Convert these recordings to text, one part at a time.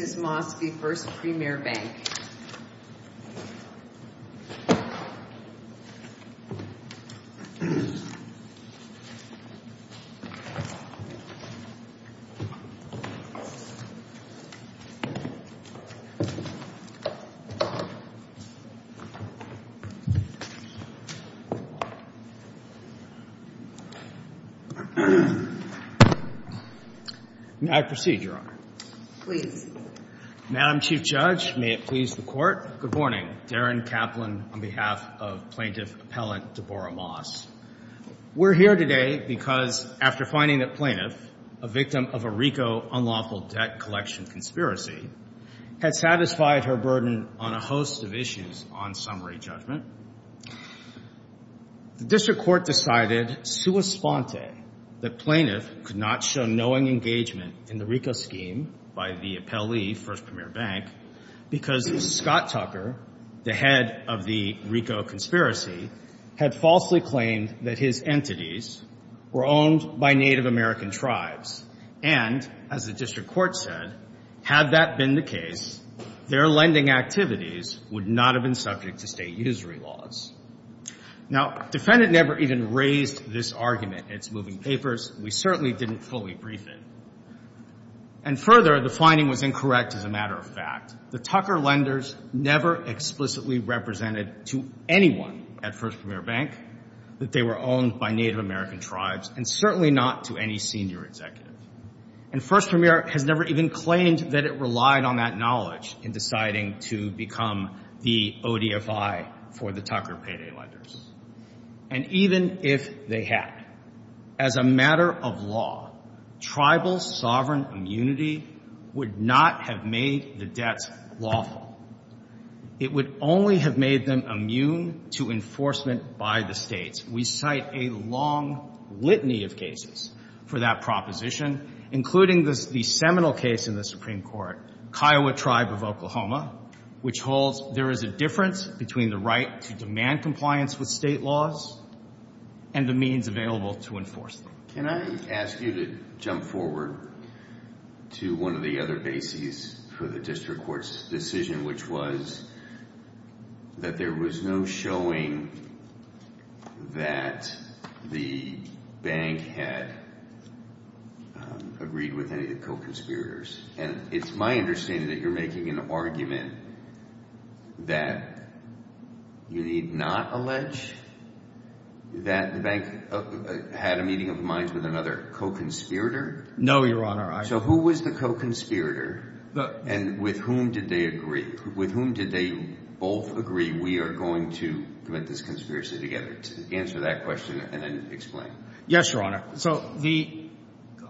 Mrs. Mosby, First Premier Bank. May I proceed, Your Honor? Please. Madam Chief Judge, may it please the Court. Good morning. Darren Kaplan on behalf of Plaintiff Appellant Deborah Moss. We're here today because after finding that Plaintiff, a victim of a RICO unlawful debt collection conspiracy, had satisfied her burden on a host of issues on summary judgment, the District Court decided sua sponte that Plaintiff could not show knowing engagement in the RICO scheme by the appellee, First Premier Bank, because Scott Tucker, the head of the RICO conspiracy, had falsely claimed that his entities were owned by Native American tribes, and, as the District Court said, had that been the case, their lending activities would not have been subject to State usury laws. Now, defendant never even raised this argument in its moving papers. We certainly didn't fully brief it. And further, the finding was incorrect as a matter of fact. The Tucker lenders never explicitly represented to anyone at First Premier Bank that they were owned by Native American tribes, and certainly not to any senior executive. And First Premier has never even claimed that it relied on that knowledge in deciding to become the ODFI for the Tucker payday lenders. And even if they had, as a matter of law, tribal sovereign immunity would not have made the debts lawful. It would only have made them immune to enforcement by the States. We cite a long litany of cases for that proposition, including the seminal case in the Supreme Court, Kiowa Tribe of Oklahoma, which holds there is a difference between the right to demand compliance with State laws and the means available to enforce them. Can I ask you to jump forward to one of the other bases for the District Court's decision, which was that there was no showing that the bank had agreed with any of the co-conspirators. And it's my understanding that you're making an argument that you need not allege that the bank had a meeting of minds with another co-conspirator? No, Your Honor. So who was the co-conspirator and with whom did they agree? With whom did they both agree we are going to commit this conspiracy together? Answer that question and then explain. Yes, Your Honor. So the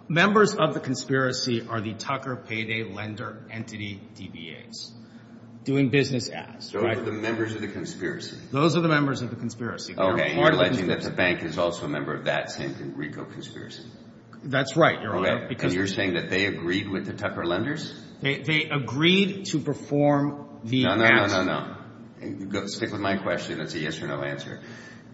members of the conspiracy are the Tucker Payday Lender Entity, DBAs, doing business ads, right? Those are the members of the conspiracy? Those are the members of the conspiracy. Okay, and you're alleging that the bank is also a member of that San Francisco conspiracy? That's right, Your Honor. And you're saying that they agreed with the Tucker Lenders? They agreed to perform the ads. No, no, no, no, no. Stick with my question. It's a yes or no answer.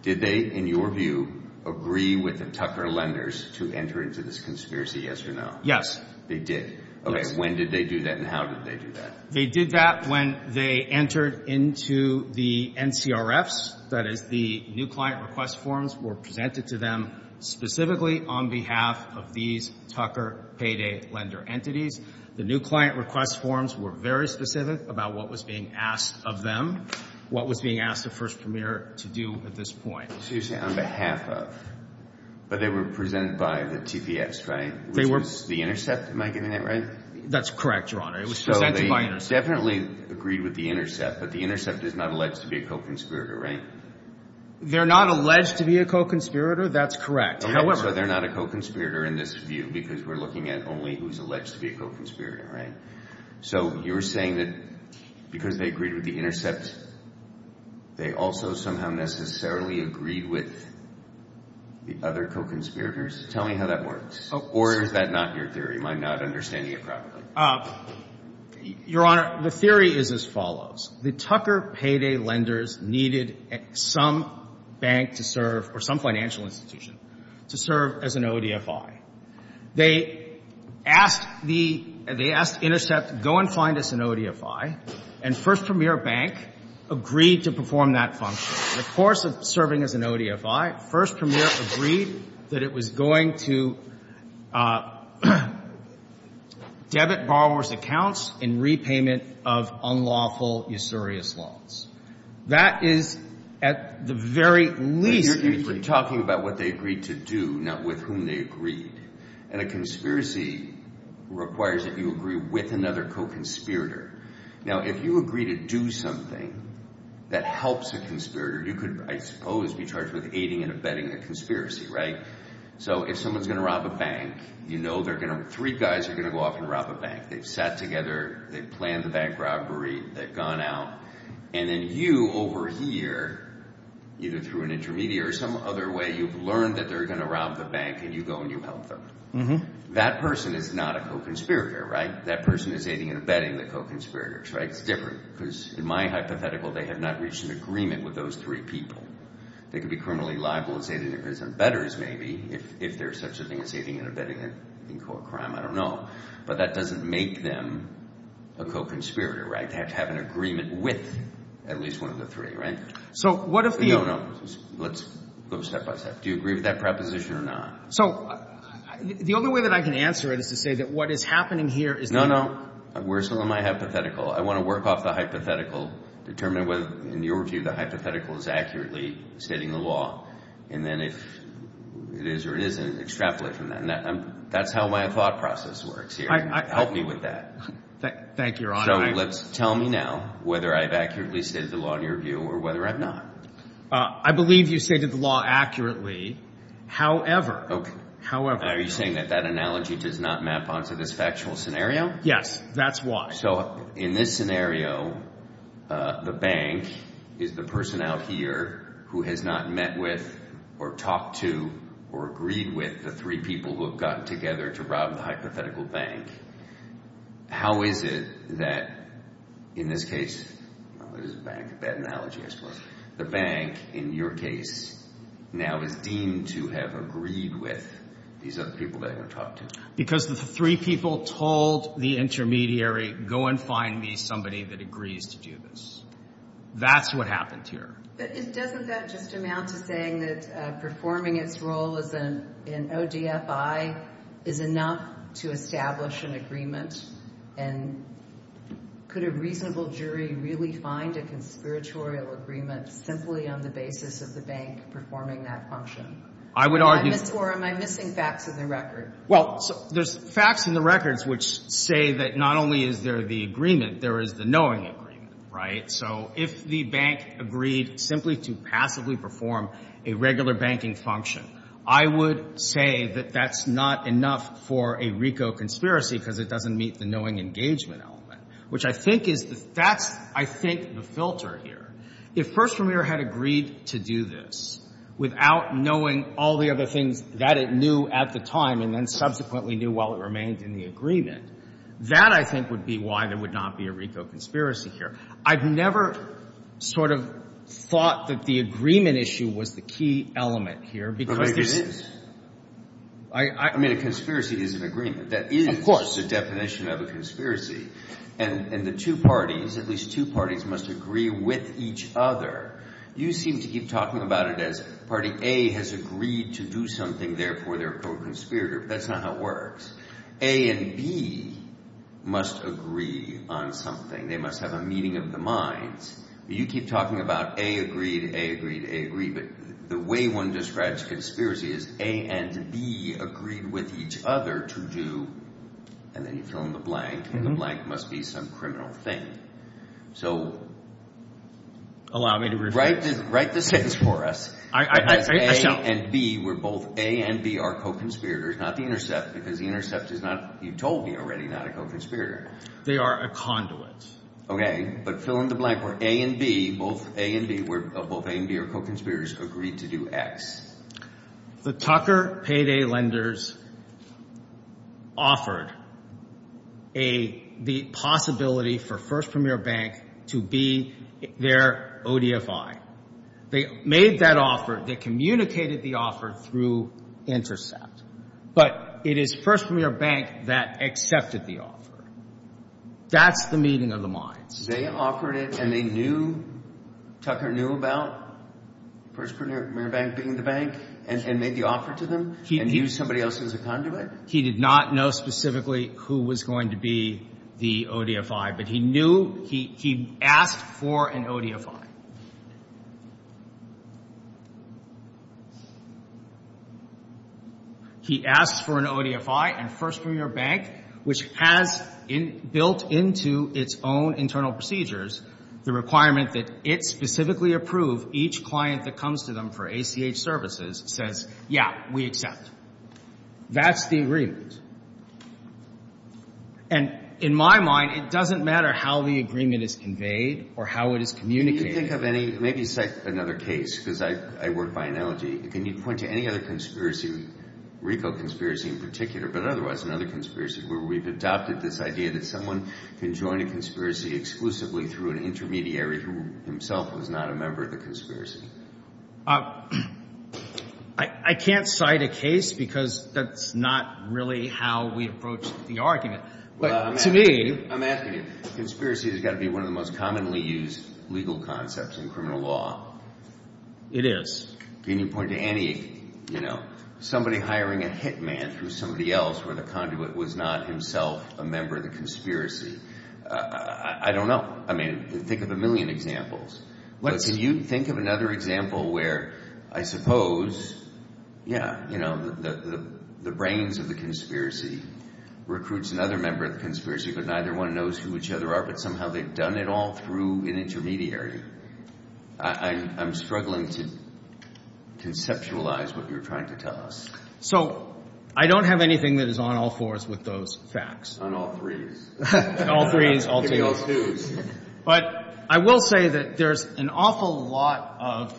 Did they, in your view, agree with the Tucker Lenders to enter into this conspiracy, yes or no? Yes. They did? Okay, when did they do that and how did they do that? They did that when they entered into the NCRFs. That is, the new client request forms were presented to them specifically on behalf of these Tucker Payday Lender Entities. The new client request forms were very specific about what was being asked of them, what was being asked of First Premier to do at this point. So you're saying on behalf of, but they were presented by the TPX, right? Which was the intercept, am I getting that right? That's correct, Your Honor. It was presented by intercept. So they definitely agreed with the intercept, but the intercept is not alleged to be a co-conspirator, right? They're not alleged to be a co-conspirator, that's correct. However— Okay, so they're not a co-conspirator in this view because we're looking at only who's alleged to be a co-conspirator, right? So you're saying that because they agreed with the intercept, they also somehow necessarily agreed with the other co-conspirators? Tell me how that works, or is that not your theory? Am I not understanding it properly? Your Honor, the theory is as follows. The Tucker Payday Lenders needed some bank to serve, or some financial institution to serve as an ODFI. They asked intercept, go and find us an ODFI, and First Premier Bank agreed to perform that function. The course of serving as an ODFI, First Premier agreed that it was going to debit borrowers' accounts in repayment of unlawful usurious loans. That is at the very least— You're talking about what they agreed to do, not with whom they agreed. And a conspiracy requires that you agree with another co-conspirator. Now, if you agree to do something that helps a conspirator, you could, I suppose, be charged with aiding and abetting a conspiracy, right? So if someone's going to rob a bank, you know three guys are going to go off and rob a bank. They've sat together, they've planned the bank robbery, they've gone out, and then over here, either through an intermediary or some other way, you've learned that they're going to rob the bank, and you go and you help them. That person is not a co-conspirator, right? That person is aiding and abetting the co-conspirators, right? It's different, because in my hypothetical, they have not reached an agreement with those three people. They could be criminally liable as aiding and abetting betters, maybe, if there's such a thing as aiding and abetting in court crime. I don't know. But that doesn't make them a co-conspirator, right? They have to have an agreement with at least one of the three, right? So what if the— No, no. Let's go step by step. Do you agree with that preposition or not? So the only way that I can answer it is to say that what is happening here is— No, no. Where's some of my hypothetical? I want to work off the hypothetical, determine whether, in your view, the hypothetical is accurately stating the law. And then if it is or it isn't, extrapolate from that. That's how my thought process works here. Help me with that. Thank you, Your Honor. Tell me now whether I've accurately stated the law, in your view, or whether I've not. I believe you stated the law accurately. However— Okay. However— Are you saying that that analogy does not map onto this factual scenario? Yes. That's why. So in this scenario, the bank is the person out here who has not met with or talked to or agreed with the three people who have gotten together to rob the hypothetical bank. How is it that, in this case— Well, it is a bank. A bad analogy, I suppose. The bank, in your case, now is deemed to have agreed with these other people that he talked to. Because the three people told the intermediary, go and find me somebody that agrees to do this. That's what happened here. But doesn't that just amount to saying that performing its role as an ODFI is enough to establish an agreement? And could a reasonable jury really find a conspiratorial agreement simply on the basis of the bank performing that function? I would argue— Or am I missing facts in the record? Well, there's facts in the records which say that not only is there the agreement, there is the knowing agreement, right? So if the bank agreed simply to passively perform a regular banking function, I would say that that's not enough for a RICO conspiracy because it doesn't meet the knowing engagement element, which I think is the—that's, I think, the filter here. If First Premier had agreed to do this without knowing all the other things that it knew at the time and then subsequently knew while it remained in the agreement, that, I think, would be why there would not be a RICO conspiracy here. I've never sort of thought that the agreement issue was the key element here because it is. I mean, a conspiracy is an agreement. Of course. That is the definition of a conspiracy. And the two parties, at least two parties, must agree with each other. You seem to keep talking about it as Party A has agreed to do something, therefore they're a co-conspirator. That's not how it works. A and B must agree on something. They must have a meeting of the minds. You keep talking about A agreed, A agreed, A agreed, but the way one describes a conspiracy is A and B agreed with each other to do— and then you fill in the blank, and the blank must be some criminal thing. So— Allow me to rephrase. Write the sentence for us as A and B, where both A and B are co-conspirators, not the intercept, because the intercept is not, you told me already, not a co-conspirator. They are a conduit. Okay, but fill in the blank where A and B, both A and B, are co-conspirators, agreed to do X. The Tucker Payday lenders offered the possibility for First Premier Bank to be their ODFI. They made that offer. They communicated the offer through intercept. But it is First Premier Bank that accepted the offer. That's the meeting of the minds. They offered it, and they knew, Tucker knew about First Premier Bank being the bank, and made the offer to them, and used somebody else as a conduit? He did not know specifically who was going to be the ODFI, but he knew, he asked for an ODFI. He asked for an ODFI, and First Premier Bank, which has built into its own internal procedures, the requirement that it specifically approve each client that comes to them for ACH services, says, yeah, we accept. That's the agreement. And in my mind, it doesn't matter how the agreement is conveyed, or how it is communicated. Maybe cite another case, because I work by analogy. Can you point to any other conspiracy, RICO conspiracy in particular, but otherwise another conspiracy, where we've adopted this idea that someone can join a conspiracy exclusively through an intermediary who himself was not a member of the conspiracy? I can't cite a case, because that's not really how we approach the argument. But to me... I'm asking you. Conspiracy has got to be one of the most commonly used legal concepts in criminal law. It is. Can you point to any, you know, somebody hiring a hitman through somebody else, where the conduit was not himself a member of the conspiracy? I don't know. I mean, think of a million examples. But can you think of another example where, I suppose, yeah, you know, the brains of the conspiracy recruits another member of the conspiracy, but neither one knows who each other are, but somehow they've done it all through an intermediary? I'm struggling to conceptualize what you're trying to tell us. So I don't have anything that is on all fours with those facts. On all threes. On all threes, all twos. But I will say that there's an awful lot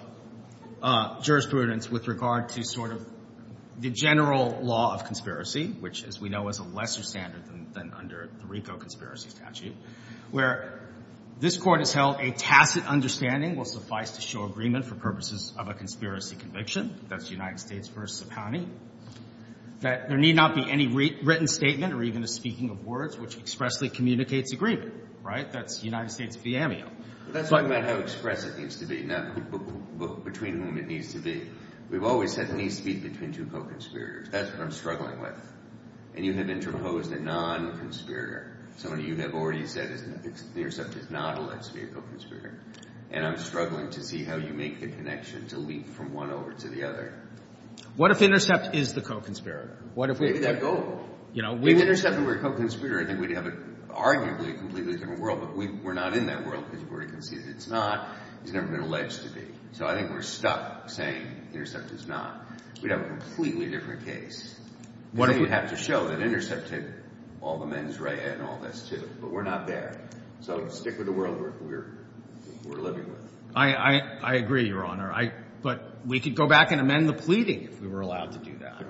of jurisprudence with regard to sort of the general law of conspiracy, which, as we know, is a lesser standard than under the RICO conspiracy statute, where this court has held a tacit understanding will suffice to show agreement for purposes of a conspiracy conviction. That's United States versus a county. That there need not be any written statement or even a speaking of words which expressly communicates agreement, right? That's United States v. AMEO. That's not about how express it needs to be, no. Between whom it needs to be. We've always said it needs to be between two co-conspirators. That's what I'm struggling with. And you have interposed a non-conspirator. Some of you have already said Intercept is not alleged to be a co-conspirator. And I'm struggling to see how you make the connection to leap from one over to the other. What if Intercept is the co-conspirator? Maybe that'd go. If Intercept were a co-conspirator, I think we'd have arguably a completely different world, but we're not in that world because we're already conceded it's not. It's never been alleged to be. So I think we're stuck saying Intercept is not. We'd have a completely different case. What if we have to show that Intercept did all the mens rea and all this, too? But we're not there. So stick with the world we're living with. I agree, Your Honor. But we could go back and amend the pleading if we were allowed to do that.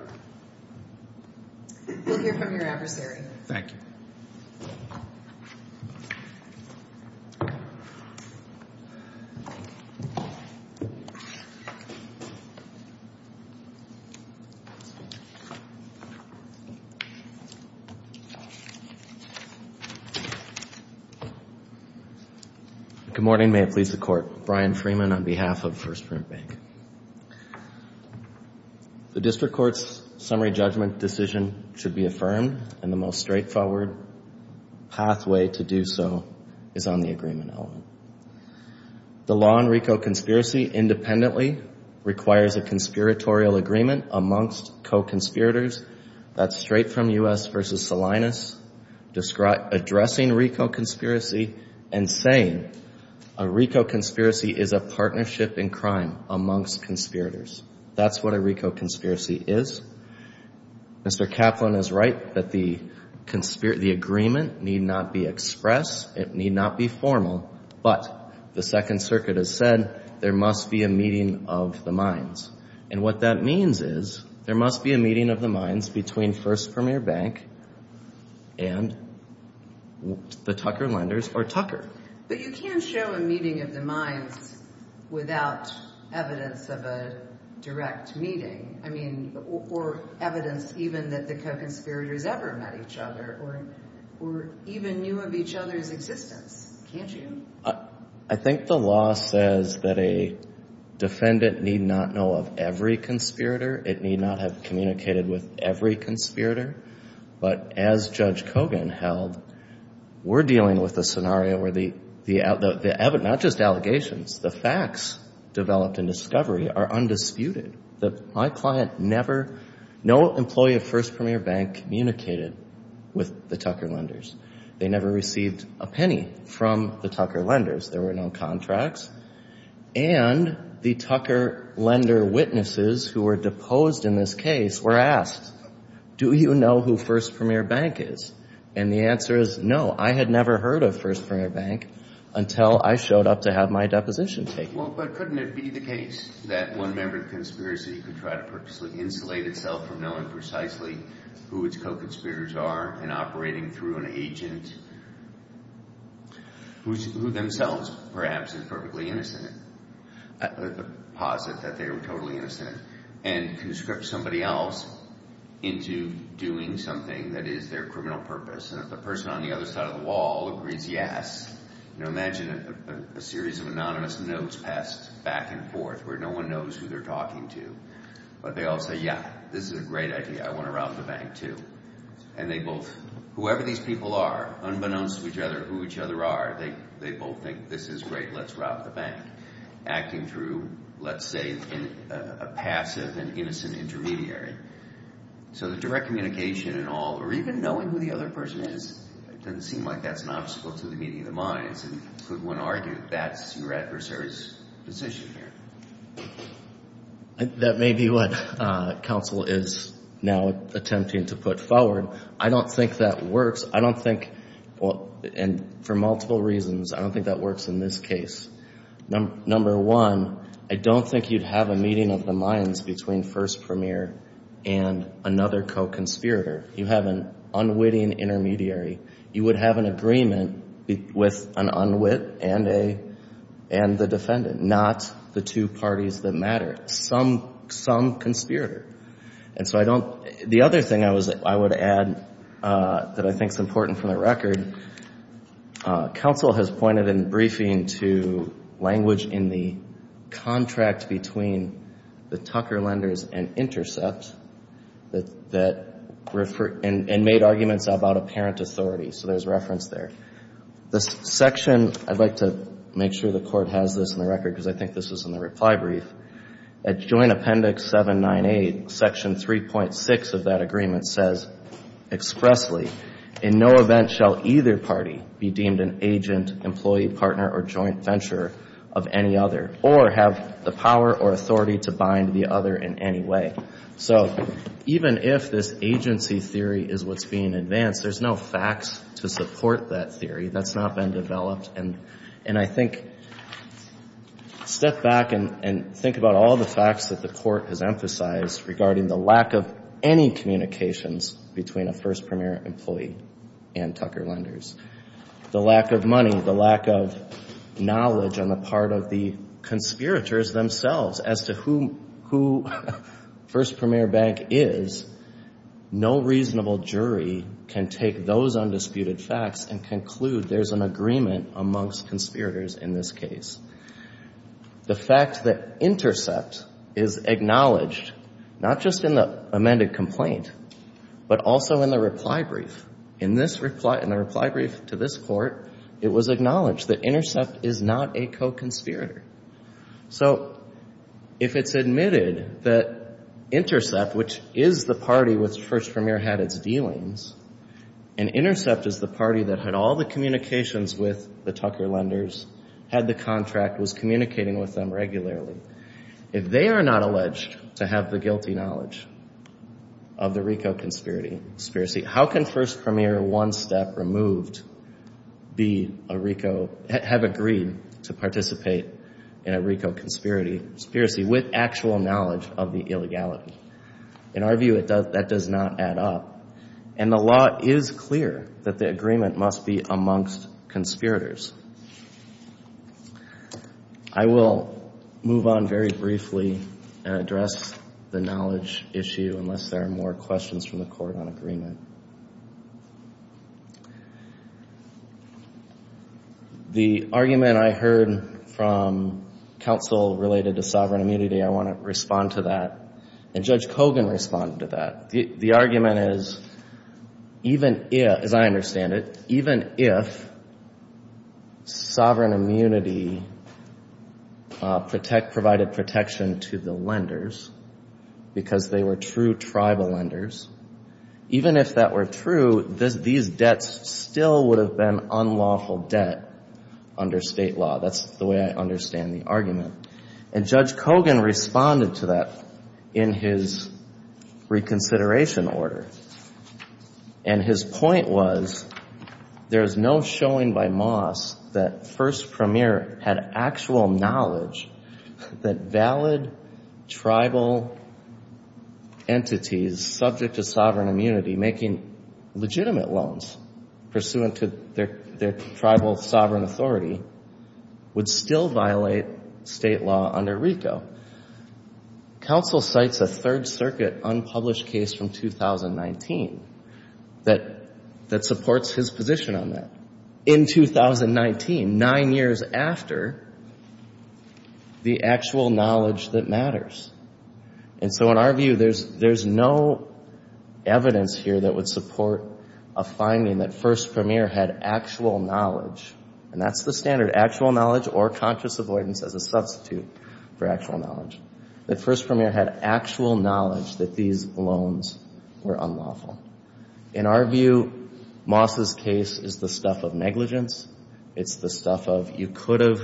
We'll hear from your adversary. Thank you. Good morning. May it please the Court. Brian Freeman on behalf of First Print Bank. The District Court's summary judgment decision should be affirmed, and the most straightforward pathway to do so is on the agreement element. The law on RICO conspiracy independently requires a conspiratorial agreement amongst co-conspirators. That's straight from U.S. v. Salinas addressing RICO conspiracy and saying a RICO conspiracy is a partnership in crime amongst conspirators. That's what a RICO conspiracy is. Mr. Kaplan is right that the agreement need not be expressed. It need not be formal. But the Second Circuit has said there must be a meeting of the minds. And what that means is there must be a meeting of the minds between First Premier Bank and the Tucker lenders or Tucker. But you can't show a meeting of the minds without evidence of a direct meeting. I mean, or evidence even that the co-conspirators ever met each other or even knew of each other's existence. Can't you? I think the law says that a defendant need not know of every conspirator. It need not have communicated with every conspirator. But as Judge Kogan held, we're dealing with a scenario where not just allegations, the facts developed in discovery are undisputed. My client never, no employee of First Premier Bank communicated with the Tucker lenders. They never received a penny from the Tucker lenders. There were no contracts. And the Tucker lender witnesses who were deposed in this case were asked, do you know who First Premier Bank is? And the answer is no. I had never heard of First Premier Bank until I showed up to have my deposition taken. Well, but couldn't it be the case that one member of the conspiracy could try to purposely insulate itself from knowing precisely who its co-conspirators are and operating through an agent who themselves perhaps is perfectly innocent, posit that they are totally innocent and conscript somebody else into doing something that is their criminal purpose. And if the person on the other side of the wall agrees yes, imagine a series of anonymous notes passed back and forth where no one knows who they're talking to. But they all say, yeah, this is a great idea. I want to rob the bank too. And they both, whoever these people are, unbeknownst to each other who each other are, they both think this is great. Let's rob the bank. Acting through, let's say, a passive and innocent intermediary. So the direct communication and all, or even knowing who the other person is, it doesn't seem like that's an obstacle to the meeting of the minds. And could one argue that that's your adversary's position here? That may be what counsel is now attempting to put forward. I don't think that works. I don't think, and for multiple reasons, I don't think that works in this case. Number one, I don't think you'd have a meeting of the minds between first premier and another co-conspirator. You have an unwitting intermediary. You would have an agreement with an unwit and the defendant, not the two parties that matter. Some conspirator. And so I don't, the other thing I would add that I think is important for the record, counsel has pointed in briefing to language in the contract between the Tucker lenders and intercepts that refer, and made arguments about apparent authority. So there's reference there. This section, I'd like to make sure the court has this in the record, because I think this is in the reply brief. At joint appendix 798, section 3.6 of that agreement says expressly, in no event shall either party be deemed an agent, employee, partner, or joint venturer or have the power or authority to bind the other in any way. So even if this agency theory is what's being advanced, there's no facts to support that theory. That's not been developed. And I think, step back and think about all the facts that the court has emphasized regarding the lack of any communications between a first premier employee and Tucker lenders. The lack of money, the lack of knowledge on the part of the conspirators themselves as to who first premier bank is. No reasonable jury can take those undisputed facts and conclude there's an agreement amongst conspirators in this case. The fact that intercept is acknowledged, not just in the amended complaint, but also in the reply brief. In this reply, in the reply brief to this court, it was acknowledged that intercept is not a co-conspirator. So if it's admitted that intercept, which is the party which first premier had its dealings, and intercept is the party that had all the communications with the Tucker lenders, had the contract, was communicating with them regularly. If they are not alleged to have the guilty knowledge of the RICO conspiracy, how can first premier one step removed be a RICO, have agreed to participate in a RICO conspiracy with actual knowledge of the illegality? In our view, that does not add up. And the law is clear that the agreement must be amongst conspirators. I will move on very briefly and address the knowledge issue, unless there are more questions from the court on agreement. The argument I heard from counsel related to sovereign immunity, I want to respond to that. And Judge Kogan responded to that. The argument is, as I understand it, even if sovereign immunity provided protection to the lenders, because they were true tribal lenders, even if that were true, these debts still would have been unlawful debt under state law. That's the way I understand the argument. And Judge Kogan responded to that in his reconsideration order. And his point was, there is no showing by Moss that first premier had actual knowledge that valid tribal entities subject to sovereign immunity making legitimate loans pursuant to their tribal sovereign authority would still violate state law under RICO. Counsel cites a Third Circuit unpublished case from 2019 that supports his position on that. In 2019, nine years after the actual knowledge that matters. And so in our view, there's no evidence here that would support a finding that first premier had actual knowledge. And that's the standard, actual knowledge or conscious avoidance as a substitute for actual knowledge. That first premier had actual knowledge that these loans were unlawful. In our view, Moss's case is the stuff of negligence. It's the stuff of, you could have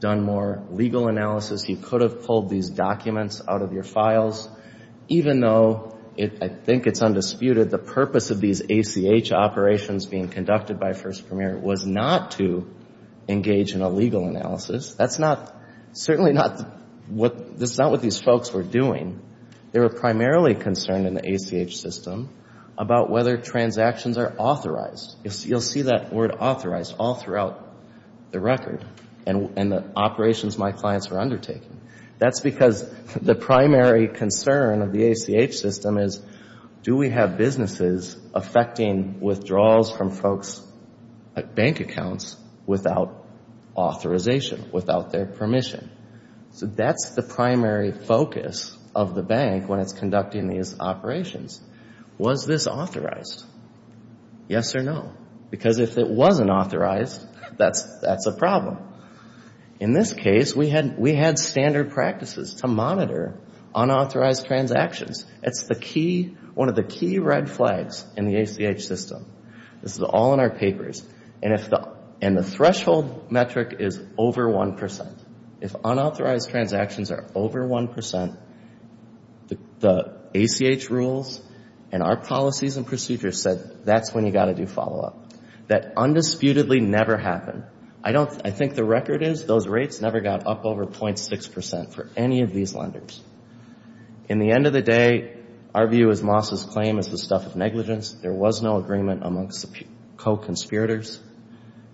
done more legal analysis. You could have pulled these documents out of your files, even though I think it's undisputed the purpose of these ACH operations being conducted by first premier was not to engage in a legal analysis. That's not, certainly not what, that's not what these folks were doing. They were primarily concerned in the ACH system about whether transactions are authorized. You'll see that word authorized all throughout the record and the operations my clients were undertaking. That's because the primary concern of the ACH system is do we have businesses affecting withdrawals from folks' bank accounts without authorization, without their permission? So that's the primary focus of the bank when it's conducting these operations. Was this authorized? Yes or no? Because if it wasn't authorized, that's a problem. In this case, we had standard practices to monitor unauthorized transactions. It's the key, one of the key red flags in the ACH system. This is all in our papers and if the, and the threshold metric is over 1%. If unauthorized transactions are over 1%, the ACH rules and our policies and procedures said that's when you got to do follow-up. That undisputedly never happened. I don't, I think the record is those rates never got up over 0.6% for any of these lenders. In the end of the day, our view is Moss's claim is the stuff of negligence. There was no agreement amongst the co-conspirators.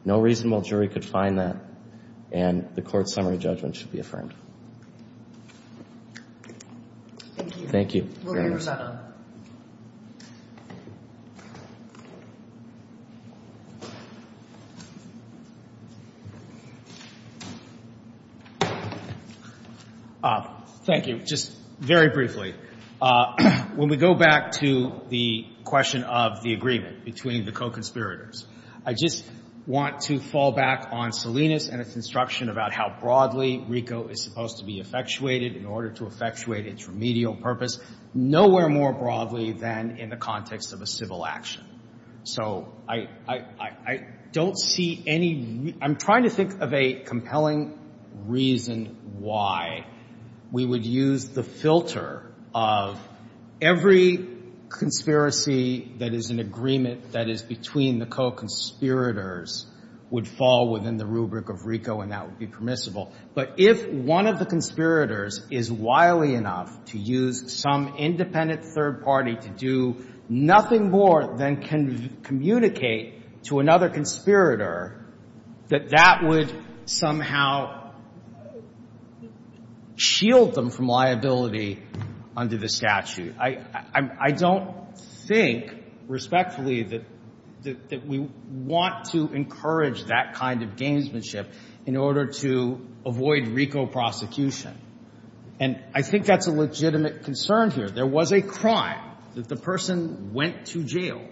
No reasonable jury could find that and the court's summary judgment should be affirmed. Thank you. Thank you. We'll hear your side on it. Thank you. Just very briefly. When we go back to the question of the agreement between the co-conspirators, I just want to fall back on Salinas and its instruction about how broadly RICO is supposed to be effectuated in order to effectuate its remedial purpose nowhere more broadly than in the context of a civil action. So I don't see any, I'm trying to think of a compelling reason why we would use the filter of every conspiracy that is an agreement that is between the co-conspirators would fall within the rubric of RICO and that would be permissible. But if one of the conspirators is wily enough to use some independent third party to do nothing more than can communicate to another conspirator that that would somehow shield them from liability under the statute. I don't think respectfully that we want to encourage that kind of gamesmanship in order to avoid RICO prosecution. And I think that's a legitimate concern here. There was a crime that the person went to jail.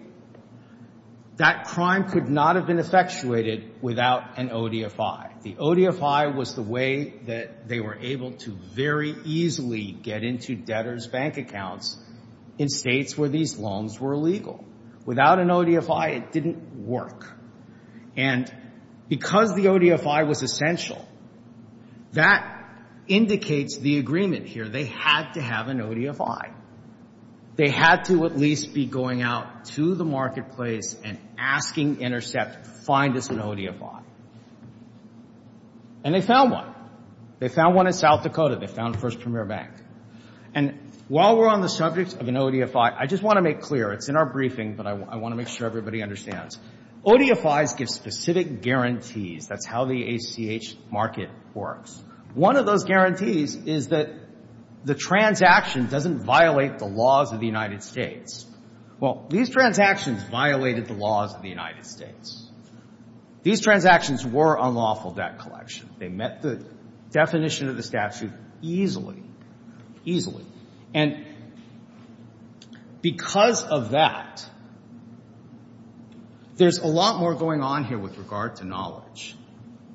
That crime could not have been effectuated without an ODFI. The ODFI was the way that they were able to very easily get into debtors' bank accounts in states where these loans were illegal. Without an ODFI, it didn't work. And because the ODFI was essential, that indicates the agreement here. They had to have an ODFI. They had to at least be going out to the marketplace and asking Intercept to find us an ODFI. And they found one. They found one in South Dakota. They found First Premier Bank. And while we're on the subject of an ODFI, I just want to make clear. It's in our briefing, but I want to make sure everybody understands. ODFIs give specific guarantees. That's how the ACH market works. One of those guarantees is that the transaction doesn't violate the laws of the United States. Well, these transactions violated the laws of the United States. These transactions were unlawful debt collection. They met the definition of the statute easily, easily. And because of that, there's a lot more going on here with regard to knowledge.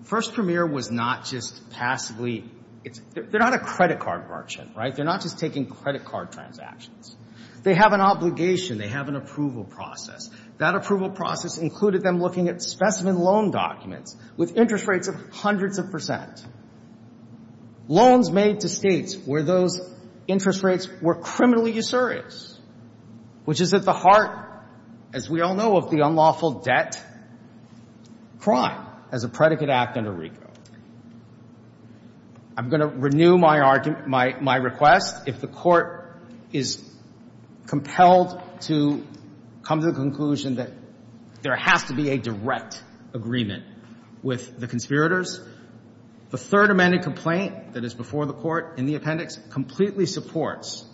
First Premier was not just passively — they're not a credit card merchant, right? They're not just taking credit card transactions. They have an obligation. They have an approval process. That approval process included them looking at specimen loan documents with interest rates of hundreds of percent, loans made to states where those interest rates were criminally usurious, which is at the heart, as we all know, of the unlawful debt crime as a predicate act under RICO. I'm going to renew my request. If the Court is compelled to come to the conclusion that there has to be a direct agreement with the conspirators, the Third Amendment complaint that is before the Court in the appendix completely supports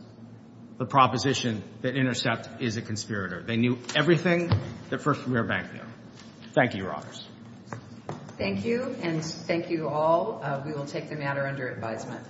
the proposition that Intercept is a conspirator. They knew everything that First Premier Bank knew. Thank you, Your Honors. Thank you, and thank you all. We will take the matter under advisement.